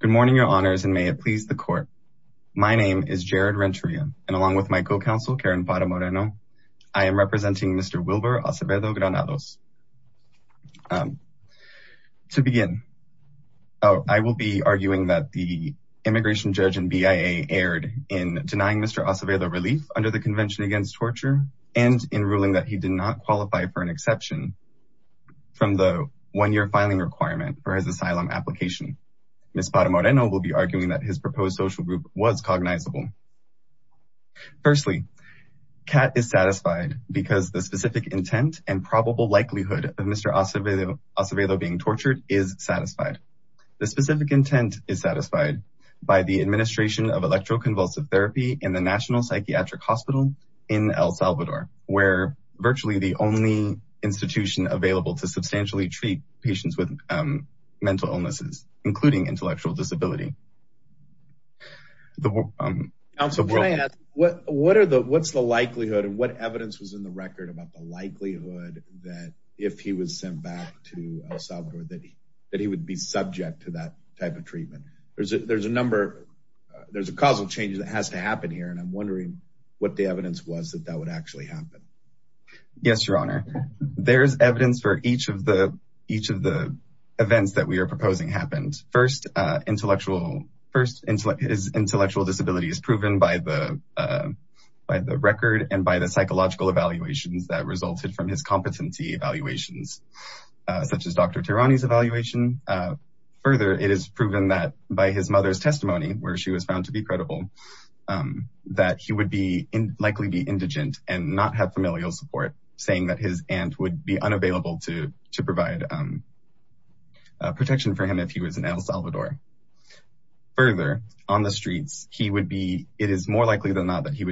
Good morning, your honors, and may it please the court. My name is Jared Renteria, and along with my co-counsel Karen Pata Moreno, I am representing Mr. Wilber Acevedo Granados. To begin, I will be arguing that the immigration judge and BIA erred in denying Mr. Acevedo relief under the Convention Against Torture and in ruling that he did not qualify for an exception from the one-year filing requirement for his asylum application. Ms. Pata Moreno will be arguing that his proposed social group was cognizable. Firstly, CAT is satisfied because the specific intent and probable likelihood of Mr. Acevedo being tortured is satisfied. The specific intent is satisfied by the administration of electroconvulsive therapy in the National Psychiatric Hospital in El Salvador, where virtually the only institution available to substantially treat patients with mental illnesses, including intellectual disability. Counsel, can I ask, what's the likelihood and what evidence was in the record about the likelihood that if he was sent back to El Salvador that he would be subject to that type of treatment? There's a number, there's a causal change that has to happen here, and I'm wondering what the evidence was that that would actually happen. Yes, Your Honor. There's evidence for each of the events that we are proposing happened. First, his intellectual disability is proven by the record and by the psychological evaluations that resulted from his competency evaluations, such as Dr. Tirani's evaluation. Further, it is proven that by his mother's testimony, where she was found to be credible, that he would likely be indigent and not have familial support, saying that his aunt would be unavailable to provide protection for him if he was in El Salvador. Further, on the streets, it is more likely than not that he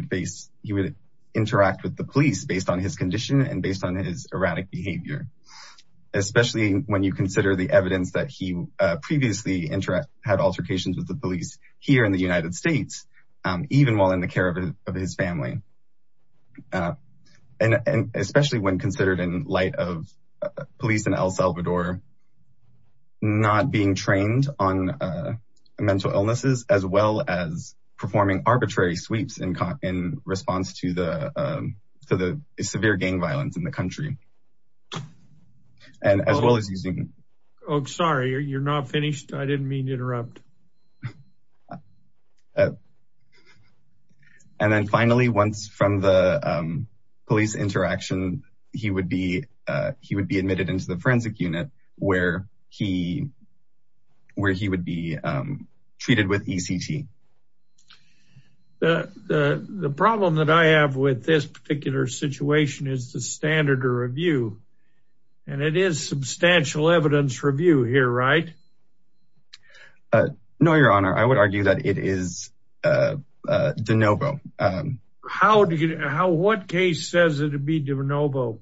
would interact with the police based on his condition and based on his erratic behavior, especially when you consider the evidence that he previously had altercations with the police here in the United States, even while in the care of his family. And especially when considered in light of police in El Salvador, not being trained on mental illnesses, as well as performing arbitrary sweeps in response to the severe gang violence in the country. And as well as using... Oh, sorry, you're not finished? I didn't mean to interrupt. And then finally, once from the police interaction, he would be admitted into the forensic unit where he would be treated with ECT. The problem that I have with this particular situation is the standard of review, and it is substantial evidence review here, right? No, Your Honor, I would argue that it is de novo. How do you know what case says it would be de novo?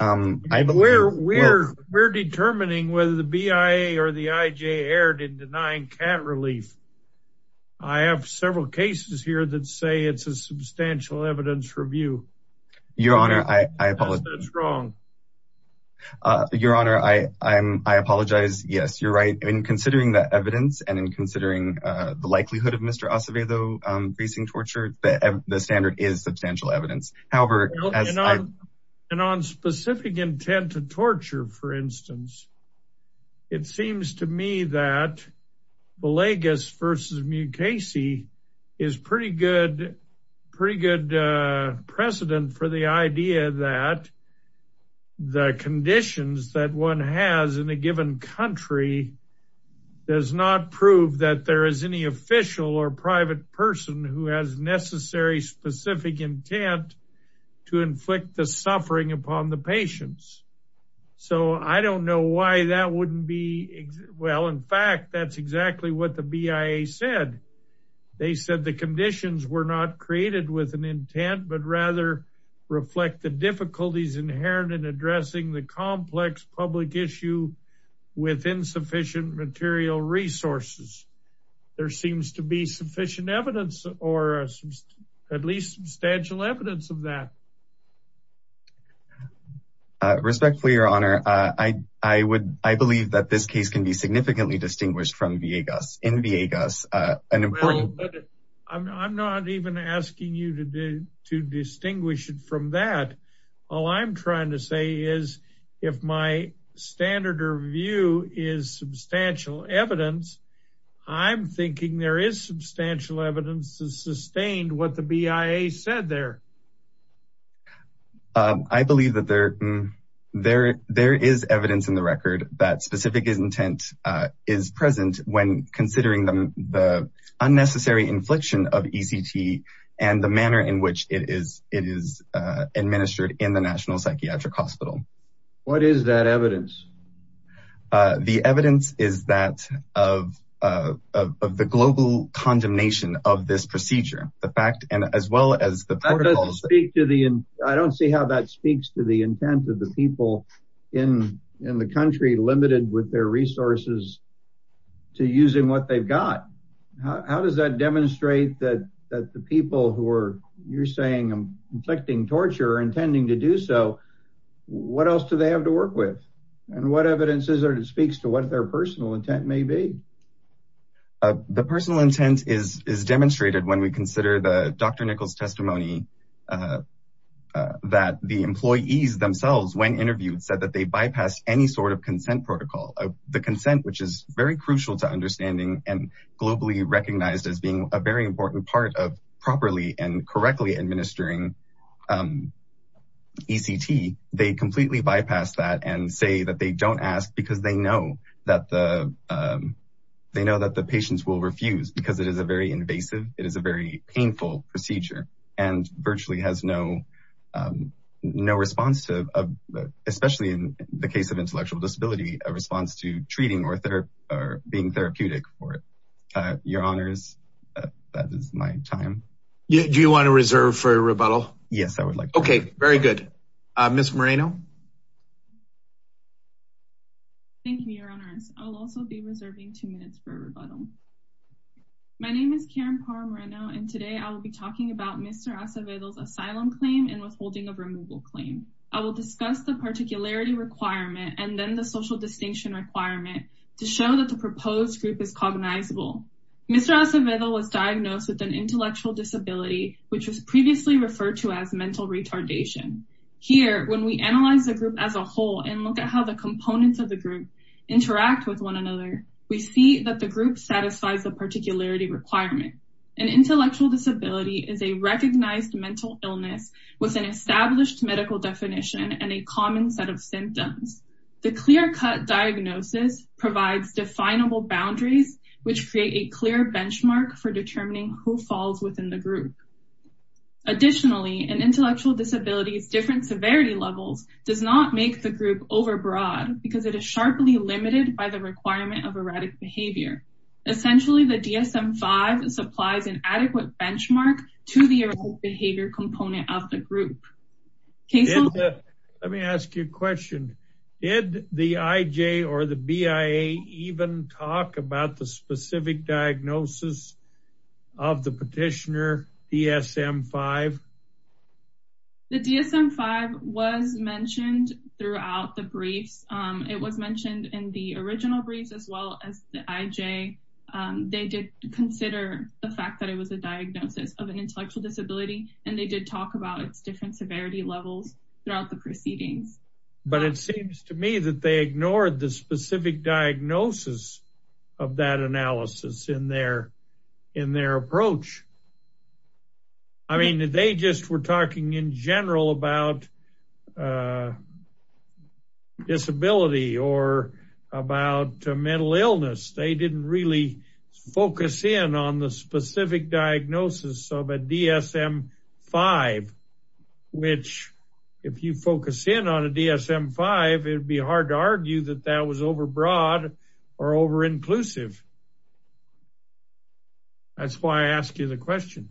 We're determining whether the BIA or the IJ erred in denying cat relief. I have several cases here that say it's a substantial evidence review. Your Honor, I apologize. That's wrong. Your Honor, I apologize. Yes, you're right. In considering the evidence and in considering the likelihood of Mr. Acevedo facing torture, the standard is substantial evidence. And on specific intent to torture, for instance, it seems to me that Villegas v. Mukasey is pretty good precedent for the idea that the conditions that one has in a given country does not prove that there is any official or private person who has necessary specific intent to inflict the suffering upon the patients. So I don't know why that wouldn't be. Well, in fact, that's exactly what the BIA said. They said the conditions were not created with an intent, but rather reflect the difficulties inherent in addressing the complex public issue with insufficient material resources. There seems to be sufficient evidence or at least substantial evidence of that. Respectfully, Your Honor, I believe that this case can be significantly distinguished from Villegas. I'm not even asking you to distinguish it from that. All I'm trying to say is if my standard or view is substantial evidence, I'm thinking there is substantial evidence to sustain what the BIA said there. I believe that there is evidence in the record that specific intent is present when considering the unnecessary infliction of ECT and the manner in which it is administered in the National Psychiatric Hospital. What is that evidence? The evidence is that of the global condemnation of this procedure. I don't see how that speaks to the intent of the people in the country limited with their resources to using what they've got. How does that demonstrate that the people who are, you're saying, inflicting torture or intending to do so, what else do they have to work with? And what evidence is there that speaks to what their personal intent may be? The personal intent is demonstrated when we consider the Dr. Nichols testimony that the employees themselves, when interviewed, said that they bypassed any sort of consent protocol. The consent, which is very crucial to understanding and globally recognized as being a very important part of properly and correctly administering ECT, they completely bypass that and say that they don't ask because they know that the patients will refuse because it is a very invasive, it is a very painful procedure, and virtually has no response to, especially in the case of intellectual disability, a response to treating or being therapeutic for it. Your Honors, that is my time. Do you want to reserve for rebuttal? Yes, I would like to. Okay, very good. Ms. Moreno. Thank you, Your Honors. I will also be reserving two minutes for rebuttal. My name is Karen Parra Moreno, and today I will be talking about Mr. Acevedo's asylum claim and withholding of removal claim. I will discuss the particularity requirement and then the social distinction requirement to show that the proposed group is cognizable. Mr. Acevedo was diagnosed with an intellectual disability, which was previously referred to as mental retardation. Here, when we analyze the group as a whole and look at how the components of the group interact with one another, we see that the group satisfies the particularity requirement. An intellectual disability is a recognized mental illness with an established medical definition and a common set of symptoms. The clear-cut diagnosis provides definable boundaries, which create a clear benchmark for determining who falls within the group. Additionally, an intellectual disability's different severity levels does not make the group overbroad because it is sharply limited by the requirement of erratic behavior. Essentially, the DSM-5 supplies an adequate benchmark to the erratic behavior component of the group. Let me ask you a question. Did the IJ or the BIA even talk about the specific diagnosis of the petitioner, DSM-5? The DSM-5 was mentioned throughout the briefs. It was mentioned in the original briefs as well as the IJ. They did consider the fact that it was a diagnosis of an intellectual disability, and they did talk about its different severity levels throughout the proceedings. But it seems to me that they ignored the specific diagnosis of that analysis in their approach. I mean, they just were talking in general about disability or about mental illness. They didn't really focus in on the specific diagnosis of a DSM-5, which if you focus in on a DSM-5, it would be hard to argue that that was overbroad or overinclusive. That's why I asked you the question.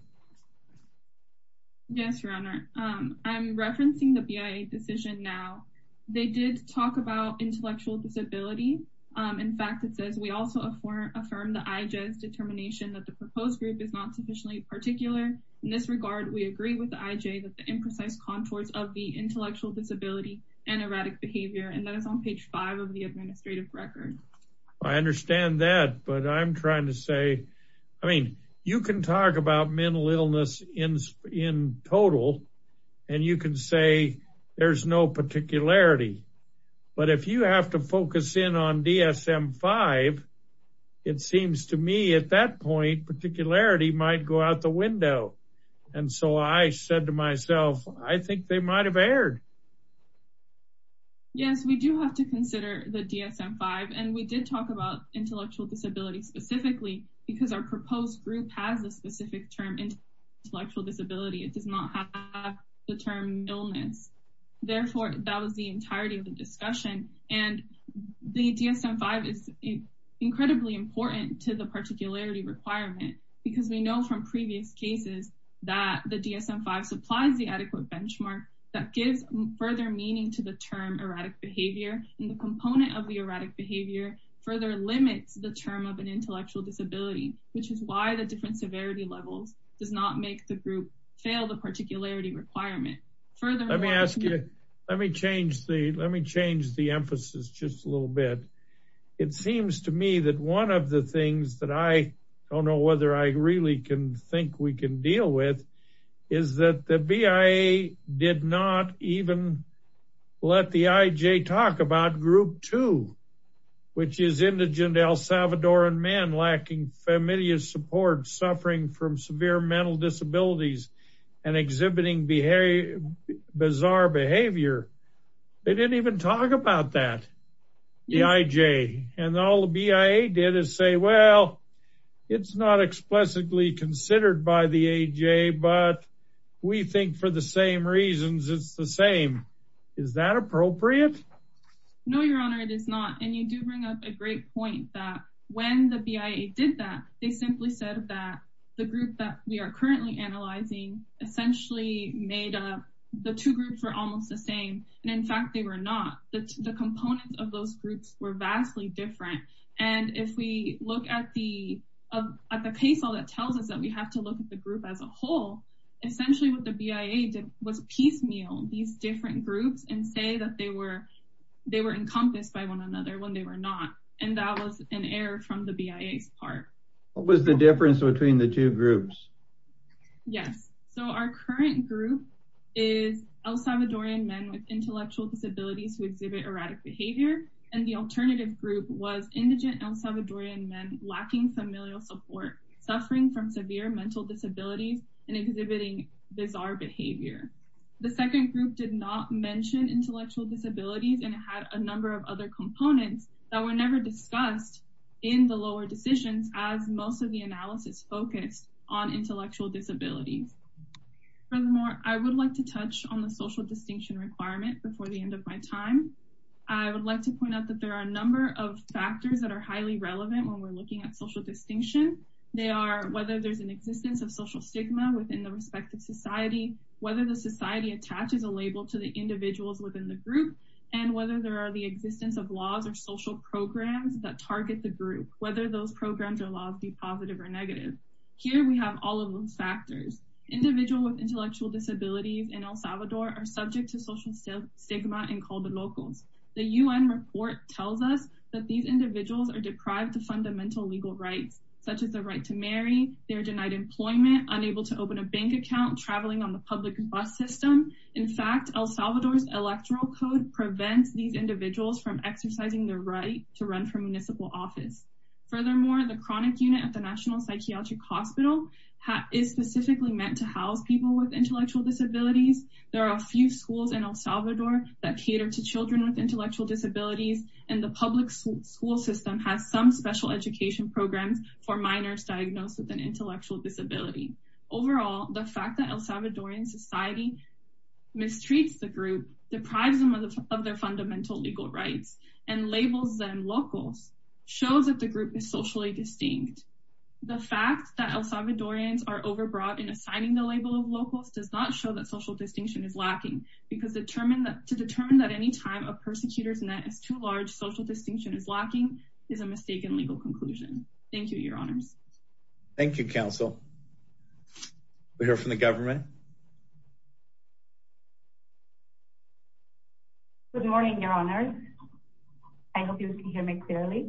Yes, Your Honor. I'm referencing the BIA decision now. They did talk about intellectual disability. In fact, it says, we also affirm the IJ's determination that the proposed group is not sufficiently particular. In this regard, we agree with the IJ that the imprecise contours of the intellectual disability and erratic behavior, and that is on page 5 of the administrative record. I understand that, but I'm trying to say, I mean, you can talk about mental illness in total, and you can say there's no particularity. But if you have to focus in on DSM-5, it seems to me at that point, particularity might go out the window. And so I said to myself, I think they might have erred. Yes, we do have to consider the DSM-5, and we did talk about intellectual disability specifically because our proposed group has a specific term, intellectual disability. It does not have the term illness. Therefore, that was the entirety of the discussion. And the DSM-5 is incredibly important to the particularity requirement because we know from previous cases that the DSM-5 supplies the adequate benchmark that gives further meaning to the term erratic behavior. And the component of the erratic behavior further limits the term of an intellectual disability, which is why the different severity levels does not make the group fail the particularity requirement. Let me change the emphasis just a little bit. It seems to me that one of the things that I don't know whether I really can think we can deal with is that the BIA did not even let the IJ talk about Group 2, which is indigent El Salvadoran men lacking familial support, suffering from severe mental disabilities, and exhibiting bizarre behavior. They didn't even talk about that, the IJ. And all the BIA did is say, well, it's not explicitly considered by the IJ, but we think for the same reasons, it's the same. Is that appropriate? No, Your Honor, it is not. And you do bring up a great point that when the BIA did that, they simply said that the group that we are currently analyzing essentially made up the two groups were almost the same. And in fact, they were not. The components of those groups were vastly different. And if we look at the case law that tells us that we have to look at the group as a whole, essentially what the BIA did was piecemeal these different groups and say that they were encompassed by one another when they were not. And that was an error from the BIA's part. What was the difference between the two groups? Yes, so our current group is El Salvadorian men with intellectual disabilities who exhibit erratic behavior. And the alternative group was indigent El Salvadorian men lacking familial support, suffering from severe mental disabilities, and exhibiting bizarre behavior. The second group did not mention intellectual disabilities and had a number of other components that were never discussed in the lower decisions as most of the analysis focused on intellectual disabilities. Furthermore, I would like to touch on the social distinction requirement before the end of my time. I would like to point out that there are a number of factors that are highly relevant when we're looking at social distinction. They are whether there's an existence of social stigma within the respective society, whether the society attaches a label to the individuals within the group, and whether there are the existence of laws or social programs that target the group, whether those programs or laws be positive or negative. Here we have all of those factors. Individuals with intellectual disabilities in El Salvador are subject to social stigma and call the locals. The UN report tells us that these individuals are deprived of fundamental legal rights, such as the right to marry, they're denied employment, unable to open a bank account, traveling on the public bus system. In fact, El Salvador's electoral code prevents these individuals from exercising their right to run for municipal office. Furthermore, the chronic unit at the National Psychiatric Hospital is specifically meant to house people with intellectual disabilities. There are a few schools in El Salvador that cater to children with intellectual disabilities, and the public school system has some special education programs for minors diagnosed with an intellectual disability. Overall, the fact that El Salvadorian society mistreats the group, deprives them of their fundamental legal rights, and labels them locals, shows that the group is socially distinct. The fact that El Salvadorians are overbroad in assigning the label of locals does not show that social distinction is lacking, because to determine that any time a persecutor's net is too large, social distinction is lacking, is a mistaken legal conclusion. Thank you, Your Honors. Thank you, Counsel. We'll hear from the government. Good morning, Your Honors. I hope you can hear me clearly.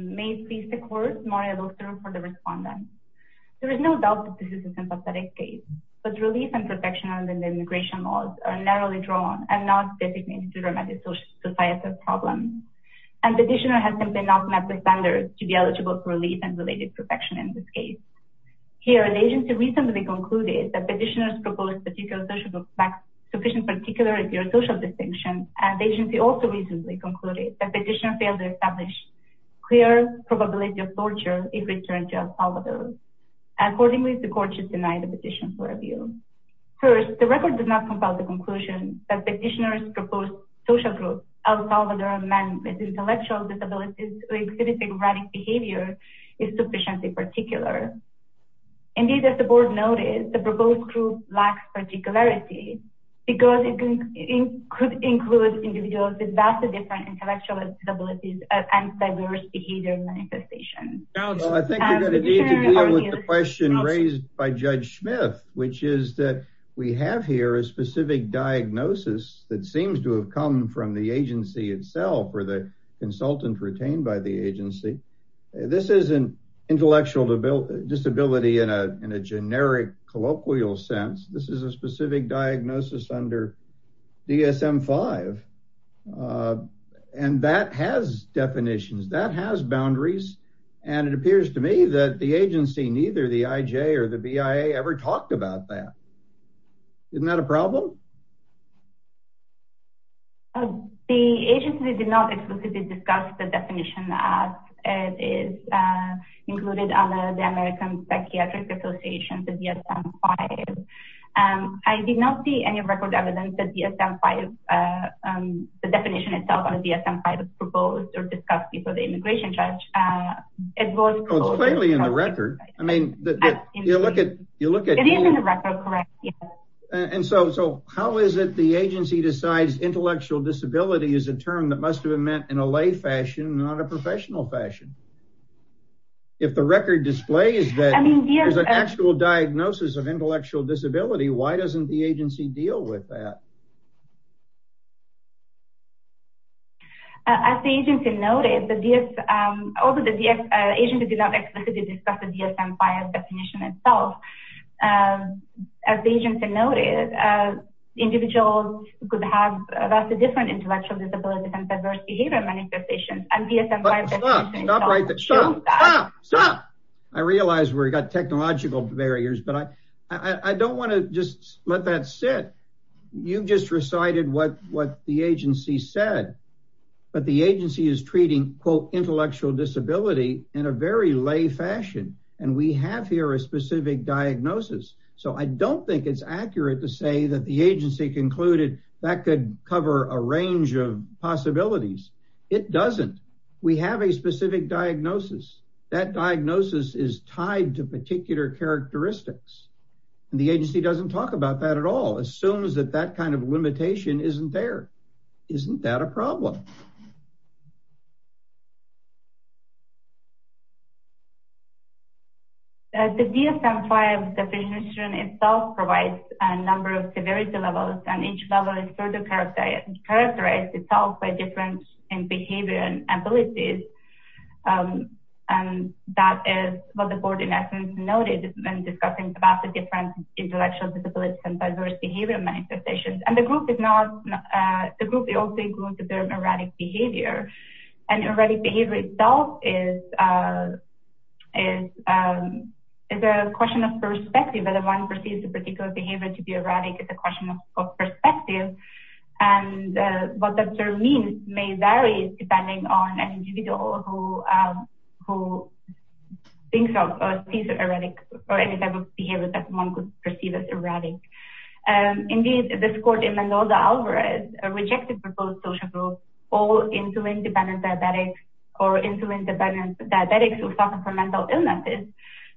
May it please the Court, Maria Luxer, for the respondents. There is no doubt that this is a sympathetic case, but relief and protection under the immigration laws are narrowly drawn and not designated to dramatic societal problems, and the petitioner has simply not met the standards to be eligible for relief and related protection in this case. Here, the agency recently concluded that petitioners propose particular social groups lack sufficient particular social distinction, and the agency also recently concluded that petitioners fail to establish clear probability of torture if returned to El Salvador. Accordingly, the Court should deny the petition for review. First, the record does not compile the conclusion that the petitioner's proposed social group, El Salvador men with intellectual disabilities who exhibit dramatic behavior, is sufficiently particular. Indeed, as the Board noted, the proposed group lacks particularity, because it could include individuals with vastly different intellectual disabilities and diverse behavioral manifestations. Well, I think you're going to need to deal with the question raised by Judge Smith, which is that we have here a specific diagnosis that seems to have come from the agency itself or the consultant retained by the agency. This isn't intellectual disability in a generic colloquial sense. This is a specific diagnosis under DSM-5, and that has definitions. That has boundaries, and it appears to me that the agency, neither the IJ or the BIA ever talked about that. Isn't that a problem? The agency did not exclusively discuss the definition as it is included under the American Psychiatric Association, the DSM-5. I did not see any record evidence that the definition itself under the DSM-5 was proposed or discussed before the immigration judge. It's plainly in the record. It is in the record, correct. So how is it the agency decides intellectual disability is a term that must have been meant in a lay fashion, not a professional fashion? If the record displays that there's an actual diagnosis of intellectual disability, why doesn't the agency deal with that? As the agency noted, the DSM, although the agency did not explicitly discuss the DSM-5 definition itself, as the agency noted, individuals could have vastly different intellectual disabilities and adverse behavior manifestations. Stop, stop, stop. I realize we've got technological barriers, but I don't want to just let that sit. You just recited what the agency said, but the agency is treating, quote, intellectual disability in a very lay fashion. And we have here a specific diagnosis. So I don't think it's accurate to say that the agency concluded that could cover a range of possibilities. It doesn't. We have a specific diagnosis. That diagnosis is tied to particular characteristics. The agency doesn't talk about that at all, assumes that that kind of limitation isn't there. Isn't that a problem? The DSM-5 definition itself provides a number of severity levels, and each level is further characterized itself by different behavior and abilities. And that is what the board in essence noted when discussing about the different intellectual disabilities and adverse behavior manifestations. And the group also includes the term erratic behavior. And erratic behavior itself is a question of perspective. Whether one perceives a particular behavior to be erratic is a question of perspective. And what that means may vary depending on an individual who thinks of or sees erratic or any type of behavior that one could perceive as erratic. Indeed, this court in Mendoza-Alvarez rejected proposed social group, all insulin-dependent diabetics or insulin-dependent diabetics who suffer from mental illnesses.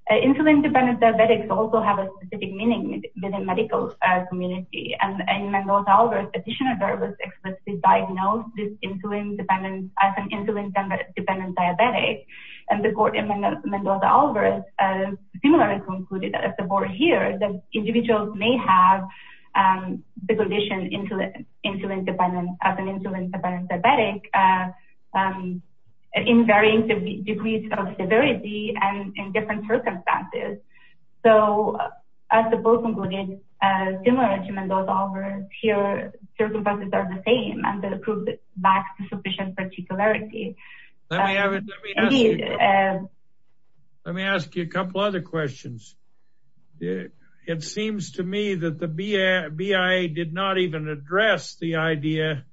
Insulin-dependent diabetics also have a specific meaning within medical community. And in Mendoza-Alvarez, a petitioner was explicitly diagnosed as an insulin-dependent diabetic. And the court in Mendoza-Alvarez similarly concluded that if the board hears that individuals may have the condition as an insulin-dependent diabetic in varying degrees of severity and in different circumstances. So as the board concluded, similar to Mendoza-Alvarez, here circumstances are the same and the group lacks sufficient particularity. Let me ask you a couple other questions. It seems to me that the BIA did not even address the idea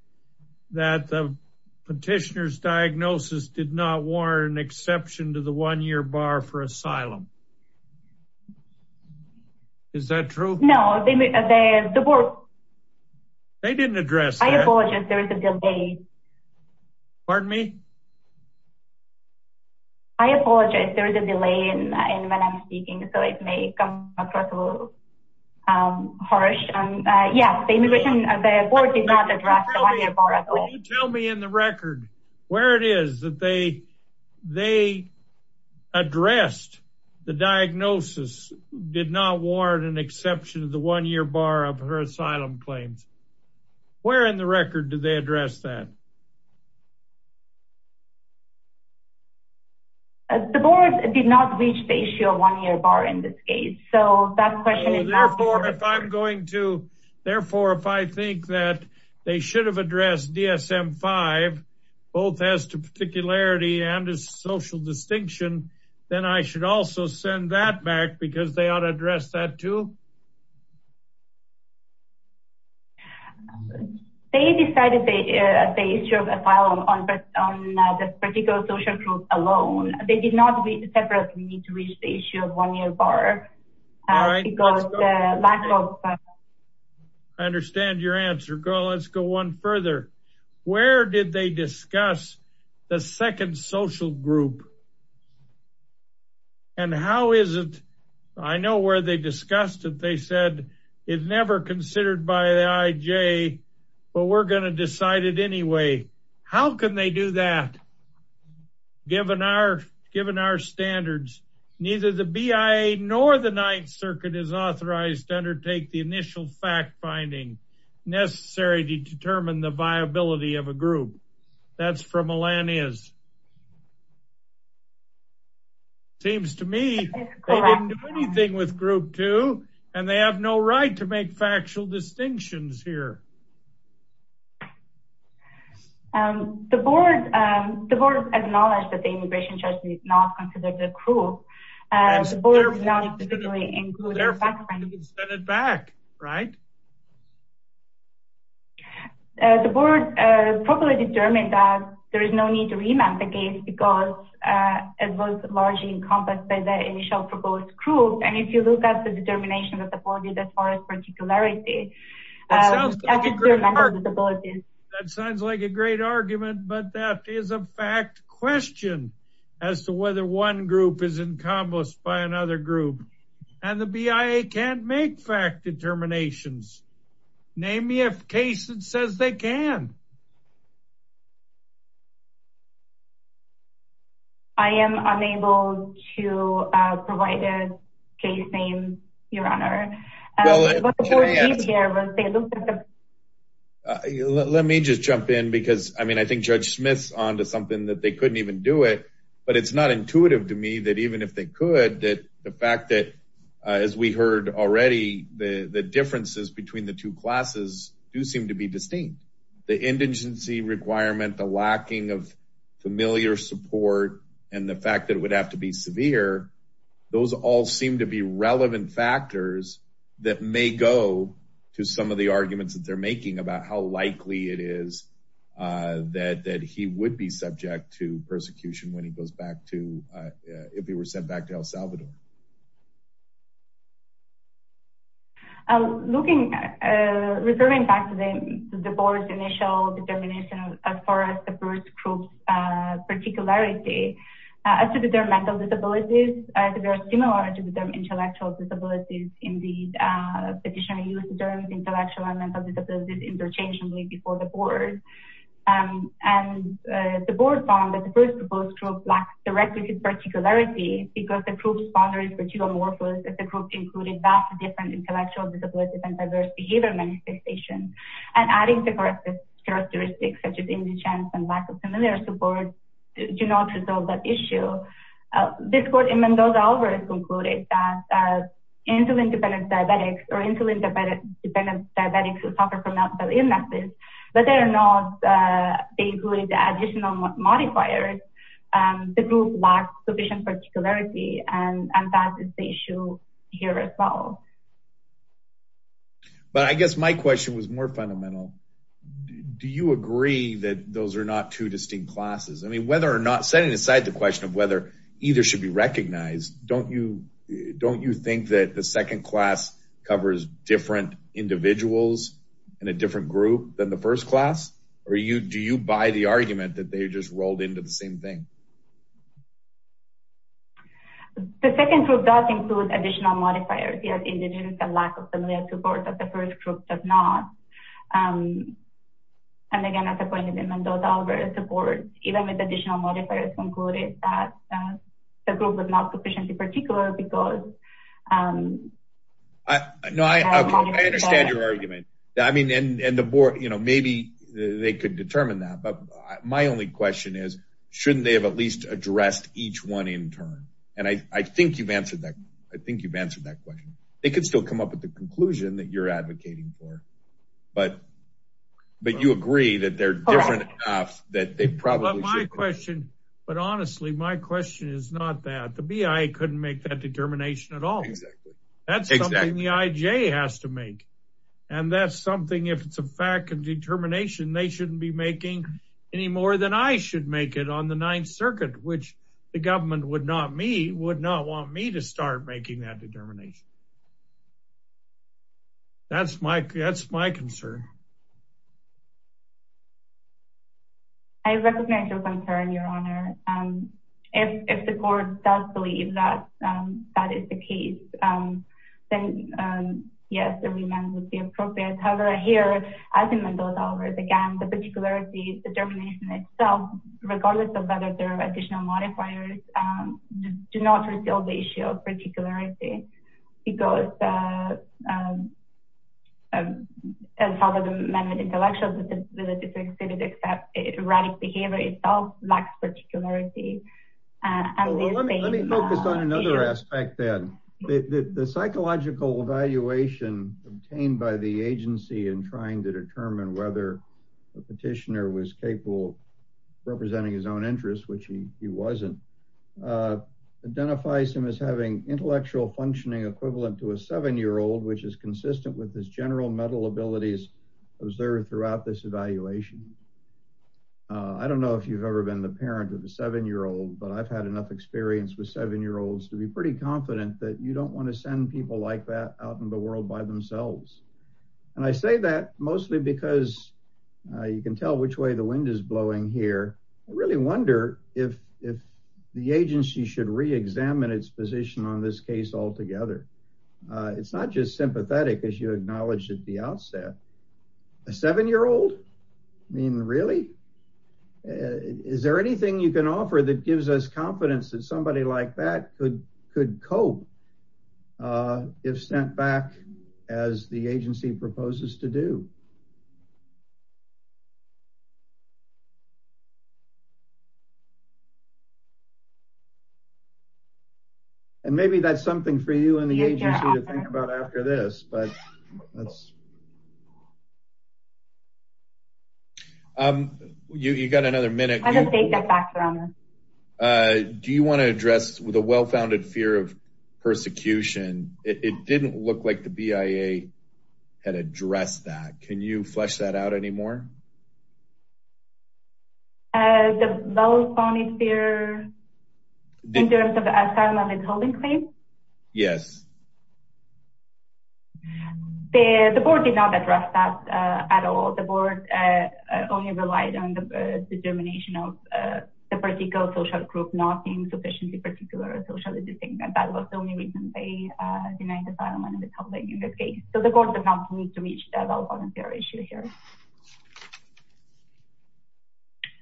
that the petitioner's diagnosis did not warrant an exception to the one-year bar for asylum. Is that true? No, the board... They didn't address that. I apologize, there is a delay. Pardon me? I apologize, there is a delay in when I'm speaking, so it may come across a little harsh. Yes, the immigration, the board did not address the one-year bar at all. The board did not reach the issue of one-year bar in this case. So that question is... Therefore, if I'm going to... Therefore, if I think that they should have addressed DSM-5, both as to particularity and as social distinction, then I should also send that back because they ought to address that too? They decided the issue of asylum on the particular social group alone. They did not separately reach the issue of one-year bar. I understand your answer. Let's go one further. Where did they discuss the second social group? And how is it... I know where they discussed it. They said it's never considered by the IJ, but we're going to decide it anyway. How can they do that? Given our standards, neither the BIA nor the Ninth Circuit is authorized to undertake the initial fact-finding necessary to determine the viability of a group. That's for Melania's. Seems to me they didn't do anything with group 2, and they have no right to make factual distinctions here. The board acknowledged that the immigration judge did not consider the group. Therefore, you can send it back, right? The board probably determined that there is no need to remand the case because it was largely encompassed by the initial proposed group. And if you look at the determination of the body, that's part of particularity. That sounds like a great argument, but that is a fact question as to whether one group is encompassed by another group. And the BIA can't make fact determinations. Name me a case that says they can. I am unable to provide a case name, Your Honor. Let me just jump in because, I mean, I think Judge Smith's on to something that they couldn't even do it. But it's not intuitive to me that even if they could, that the fact that, as we heard already, the differences between the two classes do seem to be distinct. The indigency requirement, the lacking of familiar support, and the fact that it would have to be severe, those all seem to be relevant factors that may go to some of the arguments that they're making about how likely it is that he would be subject to persecution when he goes back to, if he were sent back to El Salvador. Looking at, referring back to the board's initial determination as far as the first group's particularity, as to their mental disabilities, they are similar to their intellectual disabilities in the petitioner used terms intellectual and mental disabilities interchangeably before the board. And the board found that the first group lacked direct particularity because the group's boundaries were too amorphous, as the group included vastly different intellectual, disability, and diverse behavior manifestations. And adding the corrective characteristics such as indigence and lack of familiar support do not resolve that issue. This court in Mendoza-Alvarez concluded that insulin-dependent diabetics or insulin-dependent diabetics who suffer from multiple illnesses, whether or not they include additional modifiers, the group lacks sufficient particularity, and that is the issue here as well. But I guess my question was more fundamental. Do you agree that those are not two distinct classes? I mean, whether or not, setting aside the question of whether either should be recognized, don't you think that the second class covers different individuals in a different group than the first class? Or do you buy the argument that they just rolled into the same thing? The second group does include additional modifiers, indigence and lack of familiar support that the first group does not. And again, as I pointed out in Mendoza-Alvarez, the board, even with additional modifiers, concluded that the group was not sufficiently particular because... No, I understand your argument. I mean, and the board, you know, maybe they could determine that. But my only question is, shouldn't they have at least addressed each one in turn? And I think you've answered that. I think you've answered that question. They could still come up with the conclusion that you're advocating for. But you agree that they're different enough that they probably should be. But my question, but honestly, my question is not that. The BI couldn't make that determination at all. Exactly. That's something the IJ has to make. And that's something, if it's a fact and determination, they shouldn't be making any more than I should make it on the Ninth Circuit, which the government would not want me to start making that determination. That's my concern. I recognize your concern, Your Honor. If the board does believe that that is the case, then yes, the remand would be appropriate. However, here, as in Mendoza-Alvarez, again, the particularity, the determination itself, regardless of whether there are additional modifiers, do not resolve the issue of particularity. Because as part of the amendment, intellectual disability to exhibit except erratic behavior itself lacks particularity. Let me focus on another aspect, then. The psychological evaluation obtained by the agency in trying to determine whether a petitioner was capable of representing his own interests, which he wasn't, identifies him as having intellectual functioning equivalent to a 7-year-old, which is consistent with his general mental abilities observed throughout this evaluation. I don't know if you've ever been the parent of a 7-year-old, but I've had enough experience with 7-year-olds to be pretty confident that you don't want to send people like that out in the world by themselves. And I say that mostly because you can tell which way the wind is blowing here. I really wonder if the agency should reexamine its position on this case altogether. It's not just sympathetic, as you acknowledged at the outset. A 7-year-old? I mean, really? Is there anything you can offer that gives us confidence that somebody like that could cope if sent back as the agency proposes to do? And maybe that's something for you and the agency to think about after this. You've got another minute. Do you want to address the well-founded fear of persecution? It didn't look like the BIA had addressed that. Can you flesh that out anymore? Yes. The court did not reach the well-founded fear issue here.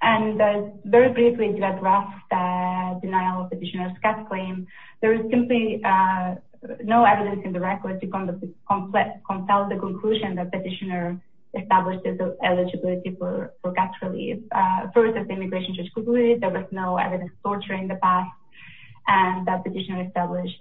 And very briefly, to address the denial of petitioner's gas claim, there is simply no evidence in the record to compel the conclusion that the petitioner established his eligibility for gas relief. First, as the immigration judge concluded, there was no evidence of torture in the past, and the petitioner established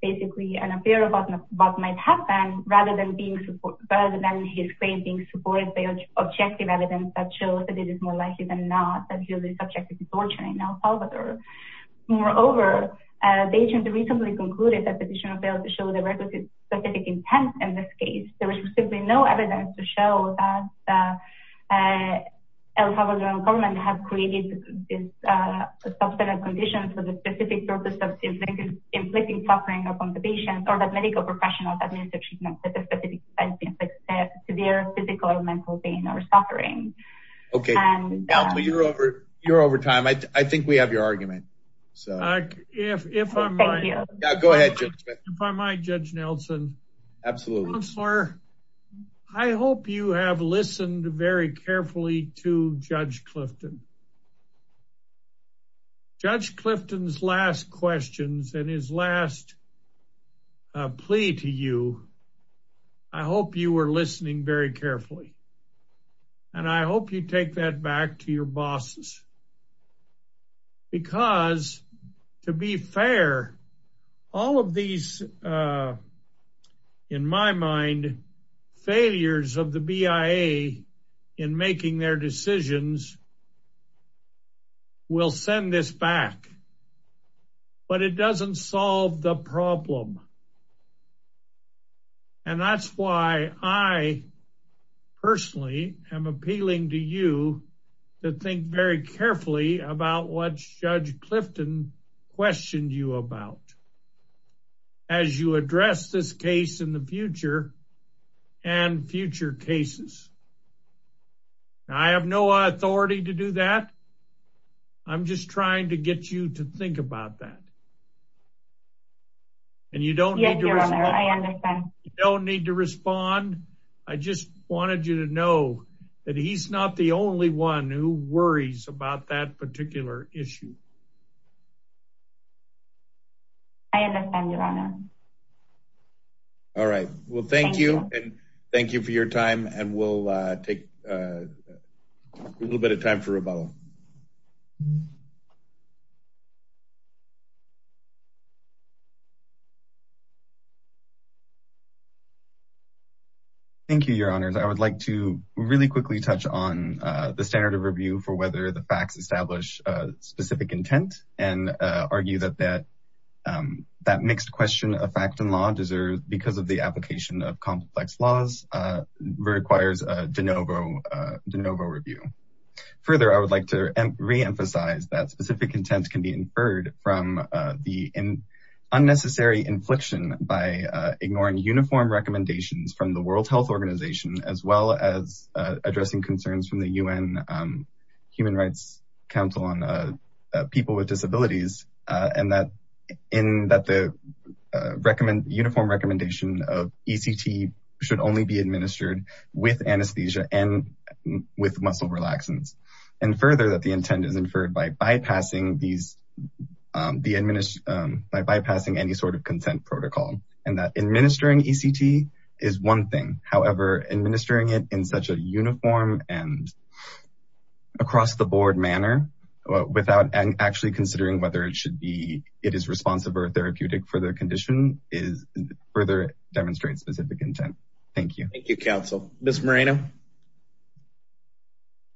basically an affair about what might happen rather than his claim being supported by objective evidence that shows that it is more likely than not that he is subject to torture in El Salvador. Moreover, the agency recently concluded that the petitioner failed to show the requisite specific intent in this case. There is simply no evidence to show that the El Salvadoran government has created this substantive condition for the specific purpose of inflicting suffering upon the patient or that medical professionals administer treatment with a specific intent to inflict severe physical or mental pain or suffering. Okay. Nelson, you're over time. I think we have your argument. Thank you. Go ahead, Judge. If I might, Judge Nelson. Absolutely. Counselor, I hope you have listened very carefully to Judge Clifton. Judge Clifton's last questions and his last plea to you, I hope you were listening very carefully. And I hope you take that back to your bosses. Because, to be fair, all of these, in my mind, failures of the BIA in making their decisions will send this back. But it doesn't solve the problem. And that's why I personally am appealing to you to think very carefully about what Judge Clifton questioned you about as you address this case in the future and future cases. I have no authority to do that. I'm just trying to get you to think about that. And you don't need to respond. I understand. You don't need to respond. I just wanted you to know that he's not the only one who worries about that particular issue. I understand, Your Honor. All right. Well, thank you. And thank you for your time. And we'll take a little bit of time for rebuttal. Thank you, Your Honors. I would like to really quickly touch on the standard of review for whether the facts establish specific intent and argue that that mixed question of fact and law, because of the application of complex laws, requires a de novo review. Further, I would like to reemphasize that specific intent can be inferred from the unnecessary infliction by ignoring uniform recommendations from the World Health Organization as well as addressing concerns from the UN Human Rights Council on People with Disabilities and that the uniform recommendation of ECT should only be administered with anesthesia and with muscle relaxants. And further, that the intent is inferred by bypassing any sort of consent protocol. And that administering ECT is one thing. However, administering it in such a uniform and across-the-board manner without actually considering whether it is responsive or therapeutic for the condition further demonstrates specific intent. Thank you. Thank you, Counsel. Ms. Moreno.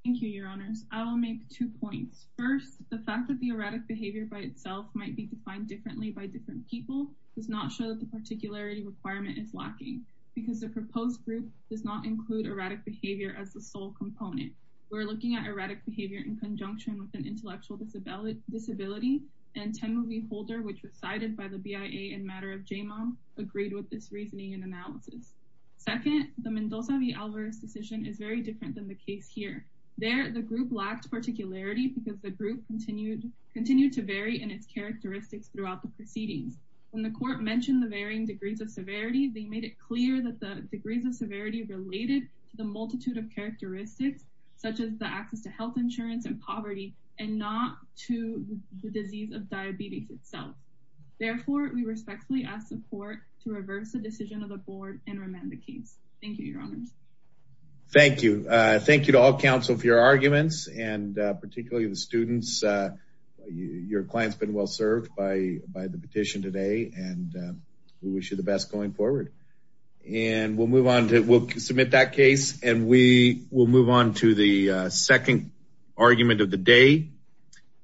Thank you, Your Honors. I will make two points. First, the fact that the erratic behavior by itself might be defined differently by different people does not show that the particularity requirement is lacking because the proposed group does not include erratic behavior as the sole component. We're looking at erratic behavior in conjunction with an intellectual disability. And Temuvi Holder, which was cited by the BIA in matter of J-MOM, agreed with this reasoning and analysis. Second, the Mendoza v. Alvarez decision is very different than the case here. There, the group lacked particularity because the group continued to vary in its characteristics throughout the proceedings. When the court mentioned the varying degrees of severity, they made it clear that the degrees of severity related to the multitude of characteristics, such as the access to health insurance and poverty, and not to the disease of diabetes itself. Therefore, we respectfully ask the court to reverse the decision of the board and remand the case. Thank you, Your Honors. Thank you. Thank you to all, Counsel, for your arguments, and particularly the students. Your client's been well served by the petition today, and we wish you the best going forward. And we'll move on to—we'll submit that case, and we will move on to the second argument of the day.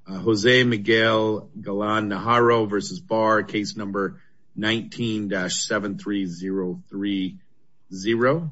Jose Miguel Galan-Najaro v. Barr, case number 19-73030.